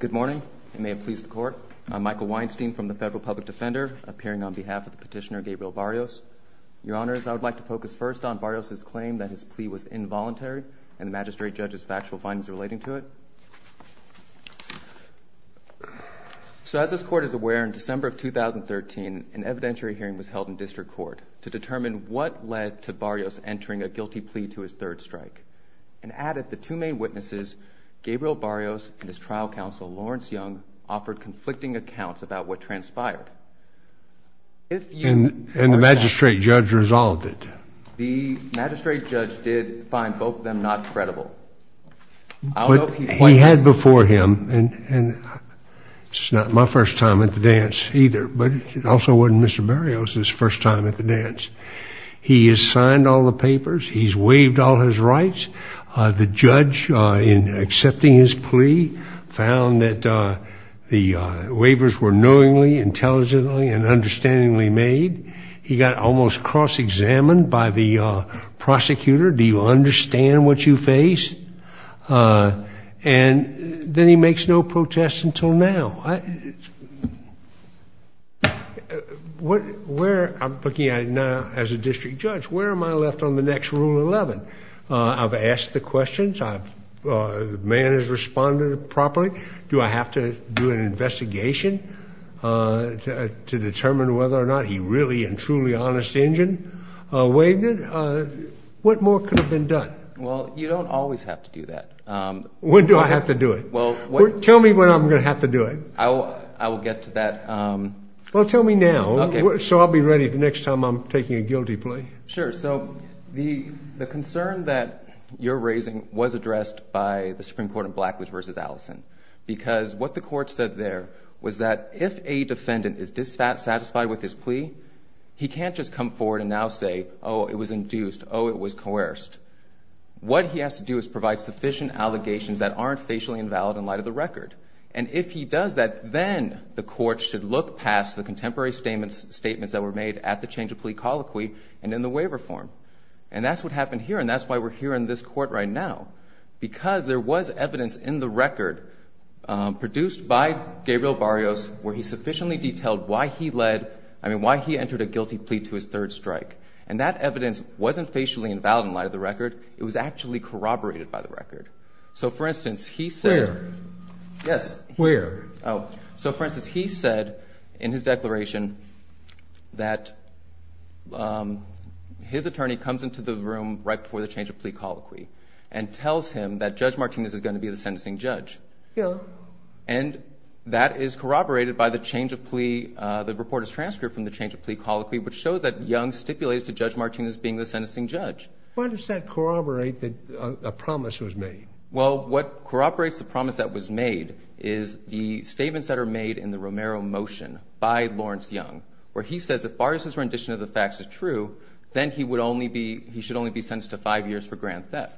Good morning, and may it please the Court. I'm Michael Weinstein from the Federal Public Defender, appearing on behalf of Petitioner Gabriel Barrios. Your Honors, I would like to focus first on Barrios' claim that his plea was involuntary and the Magistrate Judge's factual findings relating to it. So as this Court is aware, in December of 2013, an evidentiary hearing was held in District Court to determine what led to Barrios entering a guilty plea to his third strike. And as of the two main witnesses, Gabriel Barrios and his trial counsel, Lawrence Young, offered conflicting accounts about what transpired. And the Magistrate Judge resolved it? The Magistrate Judge did find both of them not credible. But he had before him, and it's not my first time at the dance either, but it also wasn't Mr. Barrios' first time at the dance. He has signed all the papers. He's waived all his rights. The judge, in accepting his plea, found that the waivers were knowingly, intelligently, and understandingly made. He got almost cross-examined by the prosecutor. Do you understand what you face? And then he makes no protests until now. No. Where I'm looking at now as a district judge, where am I left on the next Rule 11? I've asked the questions. The man has responded properly. Do I have to do an investigation to determine whether or not he really and truly honest engine waived it? What more could have been done? Well, you don't always have to do that. When do I have to do it? Tell me when I'm going to have to do it. I will get to that. Well, tell me now. Okay. So I'll be ready the next time I'm taking a guilty plea. Sure. So the concern that you're raising was addressed by the Supreme Court in Blackwood v. Allison, because what the court said there was that if a defendant is dissatisfied with his plea, he can't just come forward and now say, oh, it was induced, oh, it was coerced. What he has to do is provide sufficient allegations that aren't facially invalid in light of the record. And if he does that, then the court should look past the contemporary statements that were made at the change of plea colloquy and in the waiver form. And that's what happened here, and that's why we're here in this court right now, because there was evidence in the record produced by Gabriel Barrios where he sufficiently detailed why he led, I mean, why he entered a guilty plea to his third strike. And that evidence wasn't facially invalid in light of the record. It was actually corroborated by the record. So, for instance, he said. Where? Yes. Where? Oh. So, for instance, he said in his declaration that his attorney comes into the room right before the change of plea colloquy and tells him that Judge Martinez is going to be the sentencing judge. Really? And that is corroborated by the change of plea. The report is transcribed from the change of plea colloquy, which shows that Young stipulated to Judge Martinez being the sentencing judge. Why does that corroborate a promise that was made? Well, what corroborates the promise that was made is the statements that are made in the Romero motion by Lawrence Young, where he says if Barrios' rendition of the facts is true, then he should only be sentenced to five years for grand theft.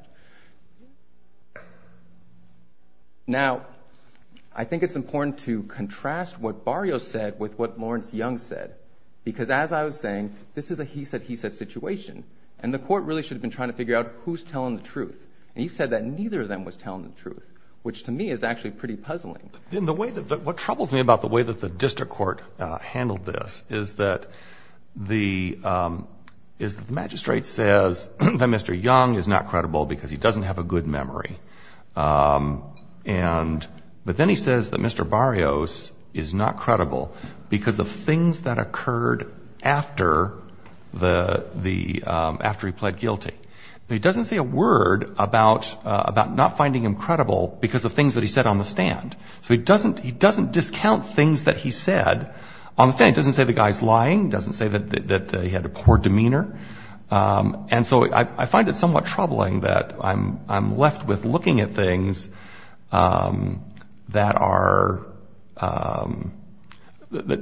Now, I think it's important to contrast what Barrios said with what Lawrence Young said, because as I was saying, this is a he said, he said situation, and the court really should have been trying to figure out who's telling the truth. And he said that neither of them was telling the truth, which to me is actually pretty puzzling. What troubles me about the way that the district court handled this is that the magistrate says that Mr. Young is not credible because he doesn't have a good memory. But then he says that Mr. Barrios is not credible because of things that occurred after he pled guilty. He doesn't say a word about not finding him credible because of things that he said on the stand. So he doesn't discount things that he said on the stand. He doesn't say the guy's lying. He doesn't say that he had a poor demeanor. And so I find it somewhat troubling that I'm left with looking at things that are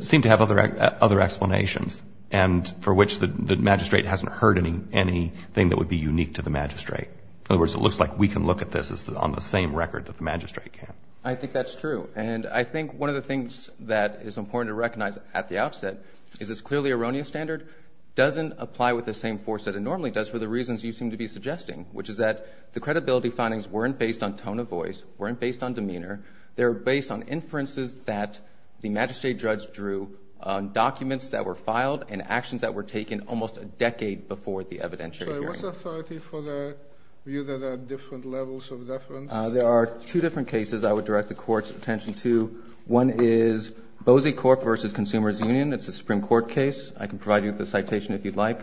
seem to have other explanations, and for which the magistrate hasn't heard anything that would be unique to the magistrate. In other words, it looks like we can look at this on the same record that the magistrate can. I think that's true. And I think one of the things that is important to recognize at the outset is this clearly erroneous standard doesn't apply with the same force that it normally does for the reasons you seem to be suggesting, which is that the credibility findings weren't based on tone of voice, weren't based on demeanor. They were based on inferences that the magistrate judge drew on documents that were filed and actions that were taken almost a decade before the evidentiary hearing. What's the authority for the view that there are different levels of deference? There are two different cases I would direct the Court's attention to. One is Boese Court v. Consumers Union. It's a Supreme Court case. I can provide you with the citation if you'd like.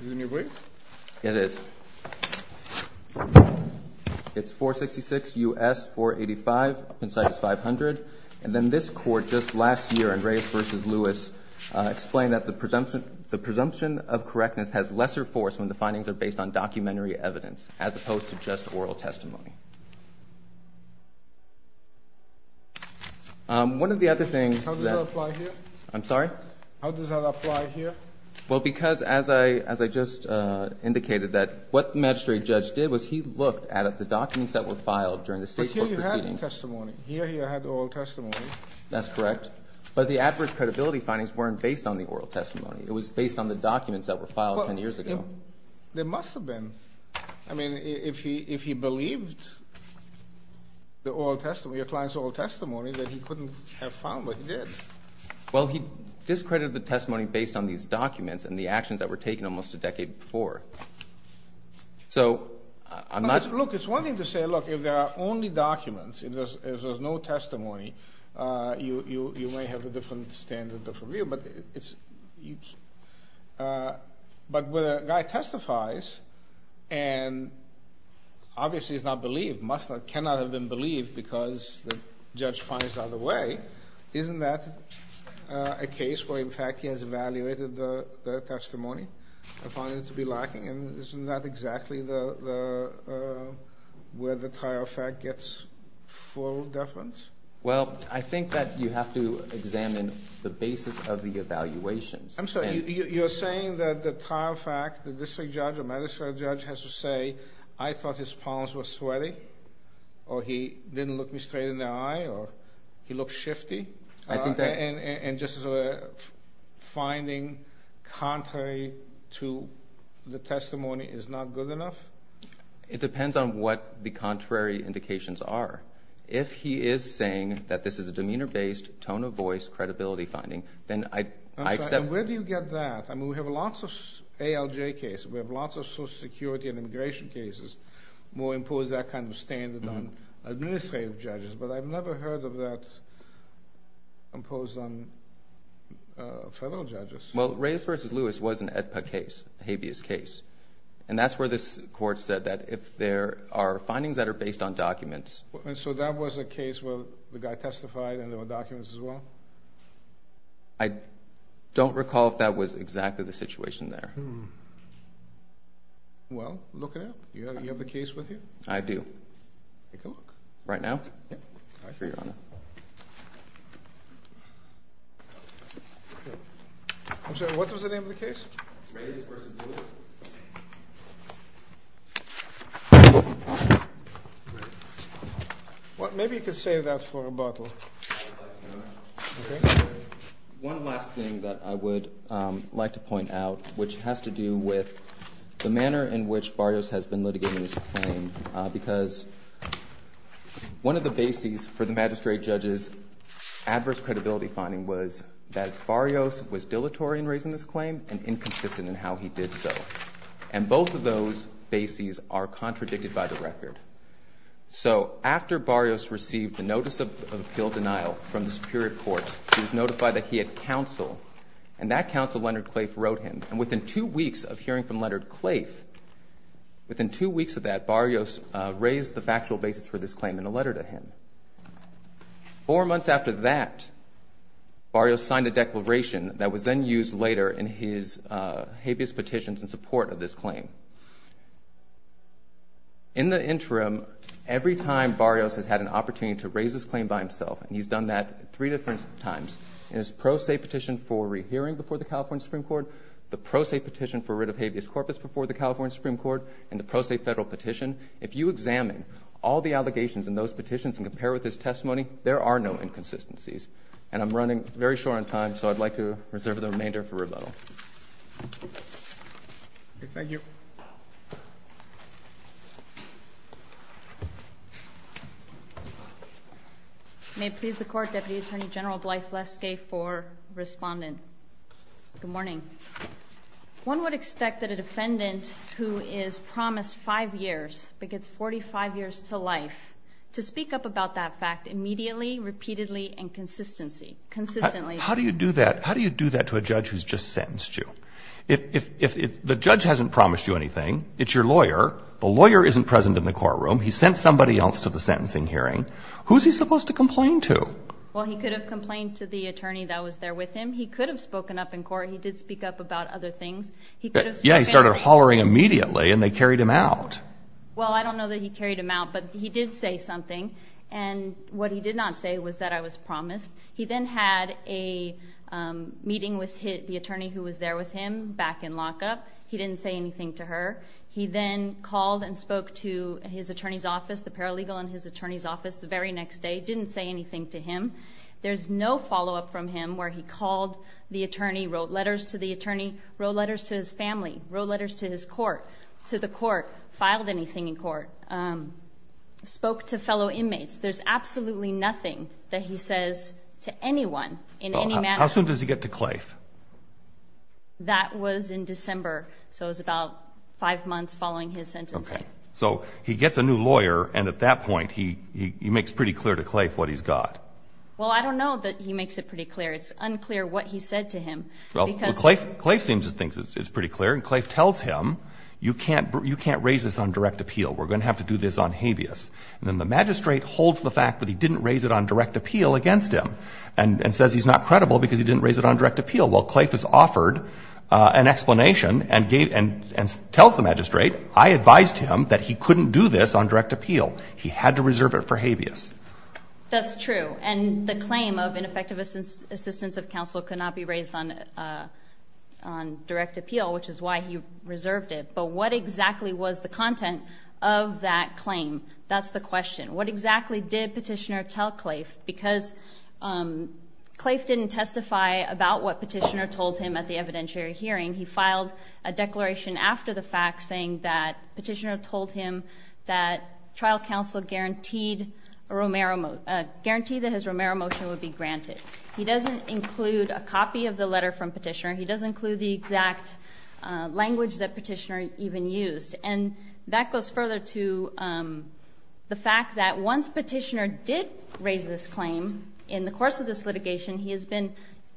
Is it in your brief? Yes, it is. It's 466 U.S. 485. Up inside is 500. And then this Court just last year, Andreas v. Lewis, explained that the presumption of correctness has lesser force when the findings are based on documentary evidence as opposed to just oral testimony. One of the other things that- How does that apply here? I'm sorry? How does that apply here? Well, because as I just indicated that what the magistrate judge did was he looked at the documents that were filed during the State court proceedings. But here you had testimony. Here you had oral testimony. That's correct. But the average credibility findings weren't based on the oral testimony. It was based on the documents that were filed 10 years ago. There must have been. I mean, if he believed the oral testimony, your client's oral testimony, then he couldn't have found what he did. Well, he discredited the testimony based on these documents and the actions that were taken almost a decade before. So I'm not- Look, it's one thing to say, look, if there are only documents, if there's no testimony, you may have a different standard of review. But when a guy testifies and obviously is not believed, cannot have been believed because the judge finds out the way, isn't that a case where, in fact, he has evaluated the testimony and found it to be lacking? Isn't that exactly where the trial fact gets full deference? Well, I think that you have to examine the basis of the evaluations. I'm sorry. You're saying that the trial fact, the district judge, the magistrate judge has to say, I thought his palms were sweaty or he didn't look me straight in the eye or he looked shifty? I think that- And just finding contrary to the testimony is not good enough? It depends on what the contrary indications are. If he is saying that this is a demeanor-based, tone of voice, credibility finding, then I accept- I'm sorry. Where do you get that? I mean, we have lots of ALJ cases. We have lots of Social Security and immigration cases. We impose that kind of standard on administrative judges, but I've never heard of that imposed on federal judges. Well, Reyes v. Lewis was an Habeas case, and that's where this court said that if there are findings that are based on documents- And so that was a case where the guy testified and there were documents as well? I don't recall if that was exactly the situation there. Well, look it up. You have the case with you? I do. Right now? Yes. Thank you, Your Honor. What was the name of the case? Reyes v. Lewis. Maybe you could save that for a bottle. One last thing that I would like to point out, which has to do with the manner in which Barrios has been litigating this claim, because one of the bases for the magistrate judge's adverse credibility finding was that Barrios was dilatory in raising this claim and inconsistent in how he did so. And both of those bases are contradicted by the record. So after Barrios received the notice of appeal denial from the Superior Court, he was notified that he had counsel, and that counsel, Leonard Claife, wrote him. And within two weeks of hearing from Leonard Claife, within two weeks of that, Barrios raised the factual basis for this claim in a letter to him. Four months after that, Barrios signed a declaration that was then used later in his habeas petitions in support of this claim. In the interim, every time Barrios has had an opportunity to raise this claim by himself, and he's done that three different times, in his pro se petition for rehearing before the California Supreme Court, the pro se petition for writ of habeas corpus before the California Supreme Court, and the pro se federal petition, if you examine all the allegations in those petitions and compare with his testimony, there are no inconsistencies. And I'm running very short on time, so I'd like to reserve the remainder for rebuttal. Thank you. Thank you. May it please the Court, Deputy Attorney General Blythe Leske for Respondent. Good morning. One would expect that a defendant who is promised five years but gets 45 years to life to speak up about that fact immediately, repeatedly, and consistently. How do you do that to a judge who's just sentenced you? If the judge hasn't promised you anything, it's your lawyer, the lawyer isn't present in the courtroom, he sent somebody else to the sentencing hearing, who's he supposed to complain to? Well, he could have complained to the attorney that was there with him. He could have spoken up in court. He did speak up about other things. Yeah, he started hollering immediately, and they carried him out. Well, I don't know that he carried him out, but he did say something, and what he did not say was that I was promised. He then had a meeting with the attorney who was there with him back in lockup. He didn't say anything to her. He then called and spoke to his attorney's office, the paralegal in his attorney's office, the very next day. He didn't say anything to him. There's no follow-up from him where he called the attorney, wrote letters to the attorney, wrote letters to his family, wrote letters to his court, to the court, filed anything in court, spoke to fellow inmates. There's absolutely nothing that he says to anyone in any manner. How soon does he get to Claife? That was in December, so it was about five months following his sentencing. Okay. So he gets a new lawyer, and at that point he makes pretty clear to Claife what he's got. Well, I don't know that he makes it pretty clear. It's unclear what he said to him. Well, Claife seems to think it's pretty clear, and Claife tells him, you can't raise this on direct appeal. We're going to have to do this on habeas. And then the magistrate holds the fact that he didn't raise it on direct appeal against him and says he's not credible because he didn't raise it on direct appeal. Well, Claife has offered an explanation and tells the magistrate, I advised him that he couldn't do this on direct appeal. He had to reserve it for habeas. That's true. And the claim of ineffective assistance of counsel cannot be raised on direct appeal, which is why he reserved it. But what exactly was the content of that claim? That's the question. What exactly did Petitioner tell Claife? Because Claife didn't testify about what Petitioner told him at the evidentiary hearing. He filed a declaration after the fact saying that Petitioner told him that trial counsel guaranteed that his Romero motion would be granted. He doesn't include a copy of the letter from Petitioner. He doesn't include the exact language that Petitioner even used. And that goes further to the fact that once Petitioner did raise this claim, in the course of this litigation he has been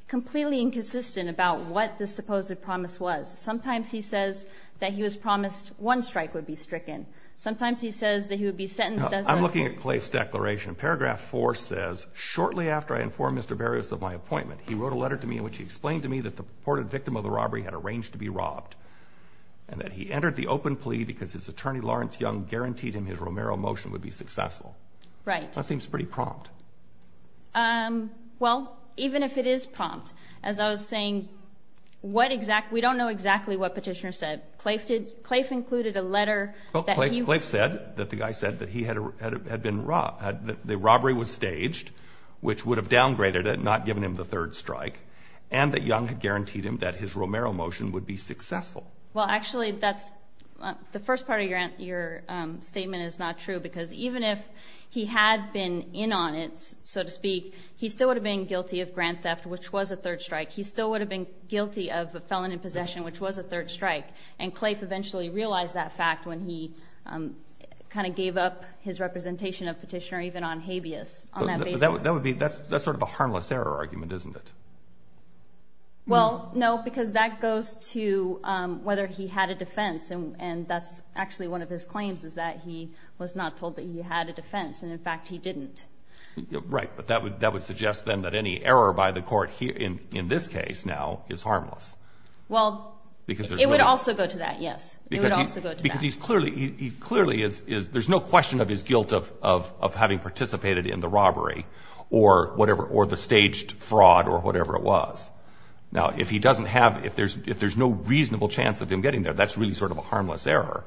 completely inconsistent about what this supposed promise was. Sometimes he says that he was promised one strike would be stricken. Sometimes he says that he would be sentenced as a ---- I'm looking at Claife's declaration. Paragraph 4 says, shortly after I informed Mr. Berrius of my appointment, he wrote a letter to me in which he explained to me that the reported victim of the robbery had arranged to be robbed and that he entered the open plea because his attorney, Lawrence Young, guaranteed him his Romero motion would be successful. Right. That seems pretty prompt. Well, even if it is prompt, as I was saying, what exact ---- we don't know exactly what Petitioner said. Claife included a letter that he ---- Well, Claife said that the guy said that he had been robbed, that the robbery was staged, which would have downgraded it and not given him the third strike, and that Young had guaranteed him that his Romero motion would be successful. Well, actually, that's ---- the first part of your statement is not true because even if he had been in on it, so to speak, he still would have been guilty of grand theft, which was a third strike. He still would have been guilty of a felon in possession, which was a third strike. And Claife eventually realized that fact when he kind of gave up his representation of Petitioner, even on habeas, on that basis. That would be ---- that's sort of a harmless error argument, isn't it? Well, no, because that goes to whether he had a defense, and that's actually one of his claims is that he was not told that he had a defense. And, in fact, he didn't. Right. But that would suggest then that any error by the court in this case now is harmless. Well, it would also go to that, yes. It would also go to that. Yes, because he clearly is ---- there's no question of his guilt of having participated in the robbery or the staged fraud or whatever it was. Now, if he doesn't have ---- if there's no reasonable chance of him getting there, that's really sort of a harmless error.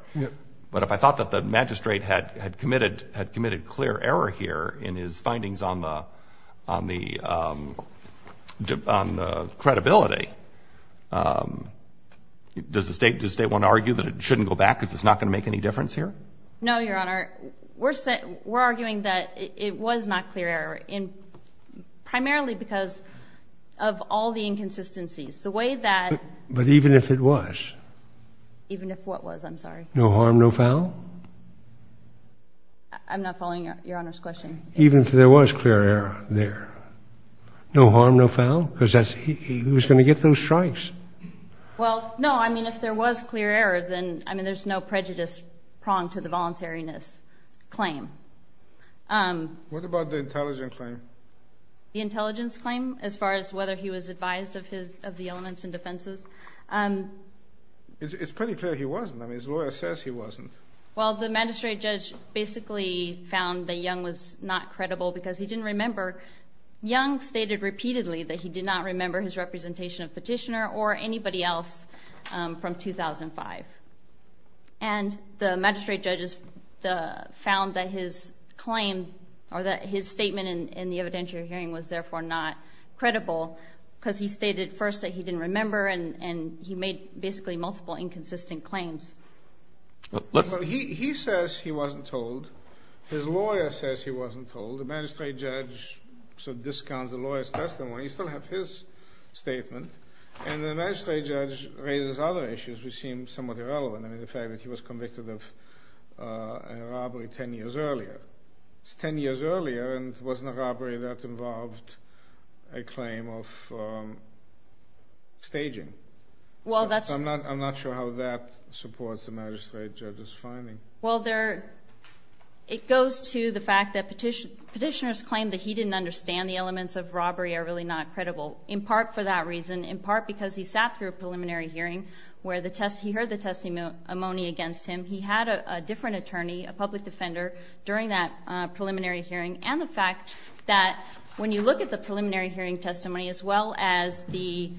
But if I thought that the magistrate had committed clear error here in his findings on the credibility, does the State want to argue that it shouldn't go back because it's not going to make any difference here? No, Your Honor. We're arguing that it was not clear error primarily because of all the inconsistencies. The way that ---- But even if it was? Even if what was? I'm sorry. No harm, no foul? I'm not following Your Honor's question. Even if there was clear error there, no harm, no foul? Because that's ---- he was going to get those strikes. Well, no. I mean, if there was clear error, then, I mean, there's no prejudice pronged to the voluntariness claim. What about the intelligence claim? The intelligence claim as far as whether he was advised of his ---- of the elements and defenses? It's pretty clear he wasn't. I mean, his lawyer says he wasn't. Well, the magistrate judge basically found that Young was not credible because he didn't remember. Young stated repeatedly that he did not remember his representation of Petitioner or anybody else from 2005. And the magistrate judge found that his claim or that his statement in the evidentiary hearing was therefore not credible because he stated first that he didn't remember and he made basically multiple inconsistent claims. Well, he says he wasn't told. His lawyer says he wasn't told. The magistrate judge sort of discounts the lawyer's testimony. You still have his statement. And the magistrate judge raises other issues which seem somewhat irrelevant. I mean, the fact that he was convicted of a robbery 10 years earlier. It's 10 years earlier and it wasn't a robbery that involved a claim of staging. Well, that's ---- I'm not sure how that supports the magistrate judge's finding. Well, it goes to the fact that Petitioner's claim that he didn't understand the elements of robbery are really not credible, in part for that reason, in part because he sat through a preliminary hearing where he heard the testimony against him. He had a different attorney, a public defender, during that preliminary hearing, and the fact that when you look at the preliminary hearing testimony as well as the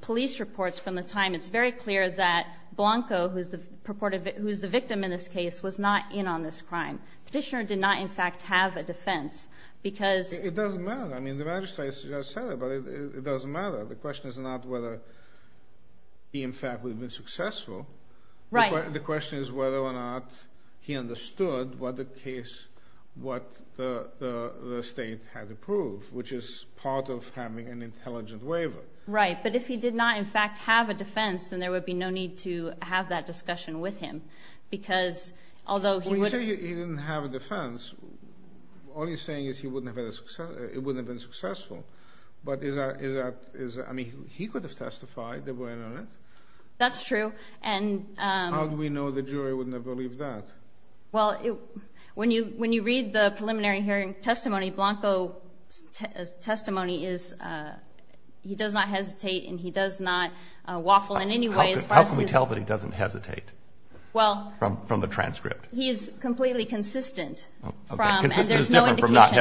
police reports from the time, it's very clear that Blanco, who's the victim in this case, was not in on this crime. Petitioner did not, in fact, have a defense because ---- It doesn't matter. I mean, the magistrate has just said it, but it doesn't matter. The question is not whether he, in fact, would have been successful. Right. The question is whether or not he understood what the case, what the state had approved, which is part of having an intelligent waiver. Right. But if he did not, in fact, have a defense, then there would be no need to have that discussion with him because although he would ---- When you say he didn't have a defense, all you're saying is he wouldn't have been successful. But is that ---- I mean, he could have testified that we're in on it. That's true, and ---- How do we know the jury wouldn't have believed that? Well, when you read the preliminary hearing testimony, Blanco's testimony is he does not hesitate and he does not waffle in any way as far as ---- How can we tell that he doesn't hesitate from the transcript? He is completely consistent from ---- Consistent is different from not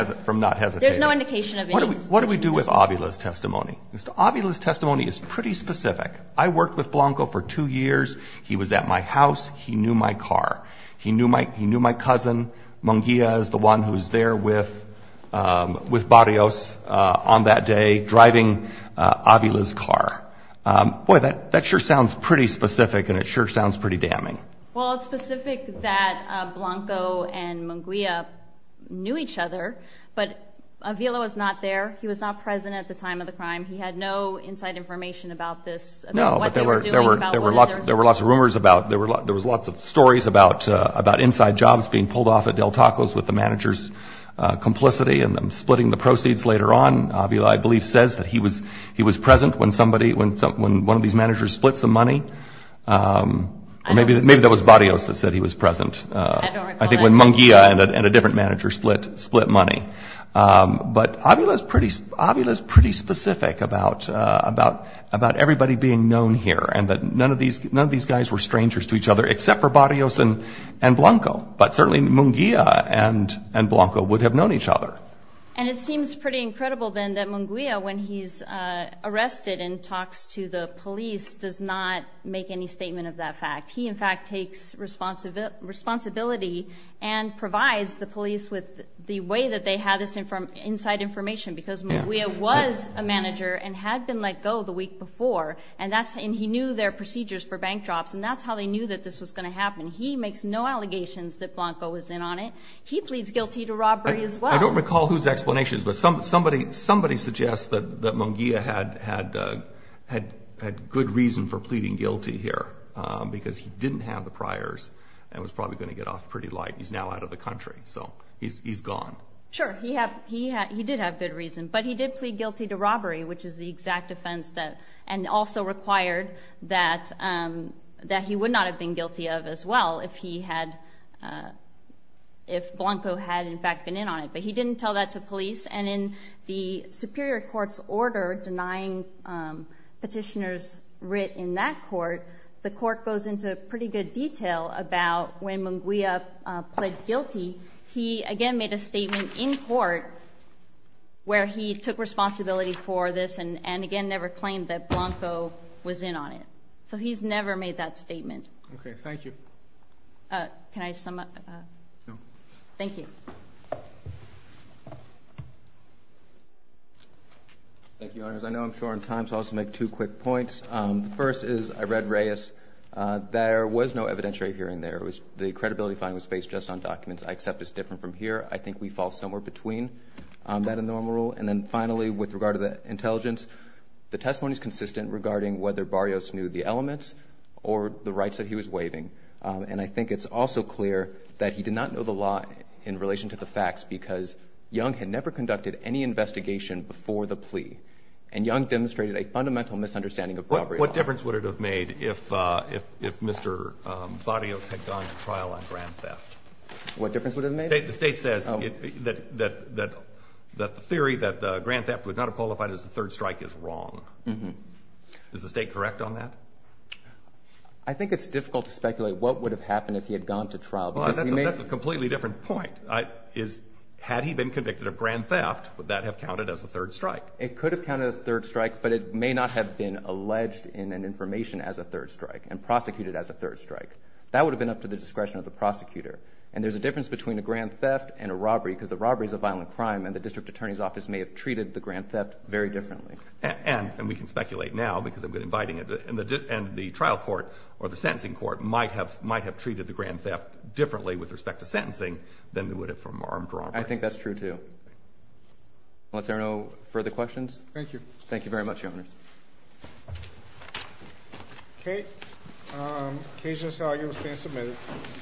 hesitating. There's no indication of any hesitation. What do we do with Avila's testimony? Avila's testimony is pretty specific. I worked with Blanco for two years. He was at my house. He knew my car. He knew my cousin, Munguia, is the one who was there with Barrios on that day driving Avila's car. Boy, that sure sounds pretty specific, and it sure sounds pretty damning. Well, it's specific that Blanco and Munguia knew each other, but Avila was not there. He was not present at the time of the crime. He had no inside information about this, about what they were doing, about what others ---- about inside jobs being pulled off at Del Tacos with the manager's complicity and them splitting the proceeds later on. Avila, I believe, says that he was present when one of these managers split some money. Maybe that was Barrios that said he was present. I think when Munguia and a different manager split money. But Avila is pretty specific about everybody being known here and that none of these guys were strangers to each other except for Barrios and Blanco. But certainly Munguia and Blanco would have known each other. And it seems pretty incredible then that Munguia, when he's arrested and talks to the police, does not make any statement of that fact. He, in fact, takes responsibility and provides the police with the way that they have this inside information because Munguia was a manager and had been let go the week before, and he knew their procedures for bank drops, and that's how they knew that this was going to happen. He makes no allegations that Blanco was in on it. He pleads guilty to robbery as well. I don't recall whose explanations, but somebody suggests that Munguia had good reason for pleading guilty here because he didn't have the priors and was probably going to get off pretty light. He's now out of the country, so he's gone. Sure, he did have good reason, but he did plead guilty to robbery, which is the exact offense and also required that he would not have been guilty of as well if Blanco had, in fact, been in on it. But he didn't tell that to police, and in the superior court's order denying petitioners writ in that court, the court goes into pretty good detail about when Munguia pled guilty. He, again, made a statement in court where he took responsibility for this and, again, never claimed that Blanco was in on it. So he's never made that statement. Okay, thank you. Can I sum up? No. Thank you. Thank you, Your Honors. I know I'm short on time, so I'll just make two quick points. The first is I read Reyes. There was no evidentiary hearing there. The credibility finding was based just on documents. I accept it's different from here. I think we fall somewhere between that and the normal rule. And then, finally, with regard to the intelligence, the testimony is consistent regarding whether Barrios knew the elements or the rights that he was waiving. And I think it's also clear that he did not know the law in relation to the facts because Young had never conducted any investigation before the plea, and Young demonstrated a fundamental misunderstanding of robbery law. What difference would it have made if Mr. Barrios had gone to trial on grand theft? What difference would it have made? The State says that the theory that grand theft would not have qualified as a third strike is wrong. Is the State correct on that? I think it's difficult to speculate what would have happened if he had gone to trial. That's a completely different point. Had he been convicted of grand theft, would that have counted as a third strike? It could have counted as a third strike, but it may not have been alleged in an information as a third strike and prosecuted as a third strike. That would have been up to the discretion of the prosecutor. And there's a difference between a grand theft and a robbery because a robbery is a violent crime, and the district attorney's office may have treated the grand theft very differently. And we can speculate now because I've been inviting it. And the trial court or the sentencing court might have treated the grand theft differently with respect to sentencing than they would have from armed robbery. I think that's true, too. Unless there are no further questions. Thank you. Thank you very much, Your Honors. Okay. Cases are being submitted.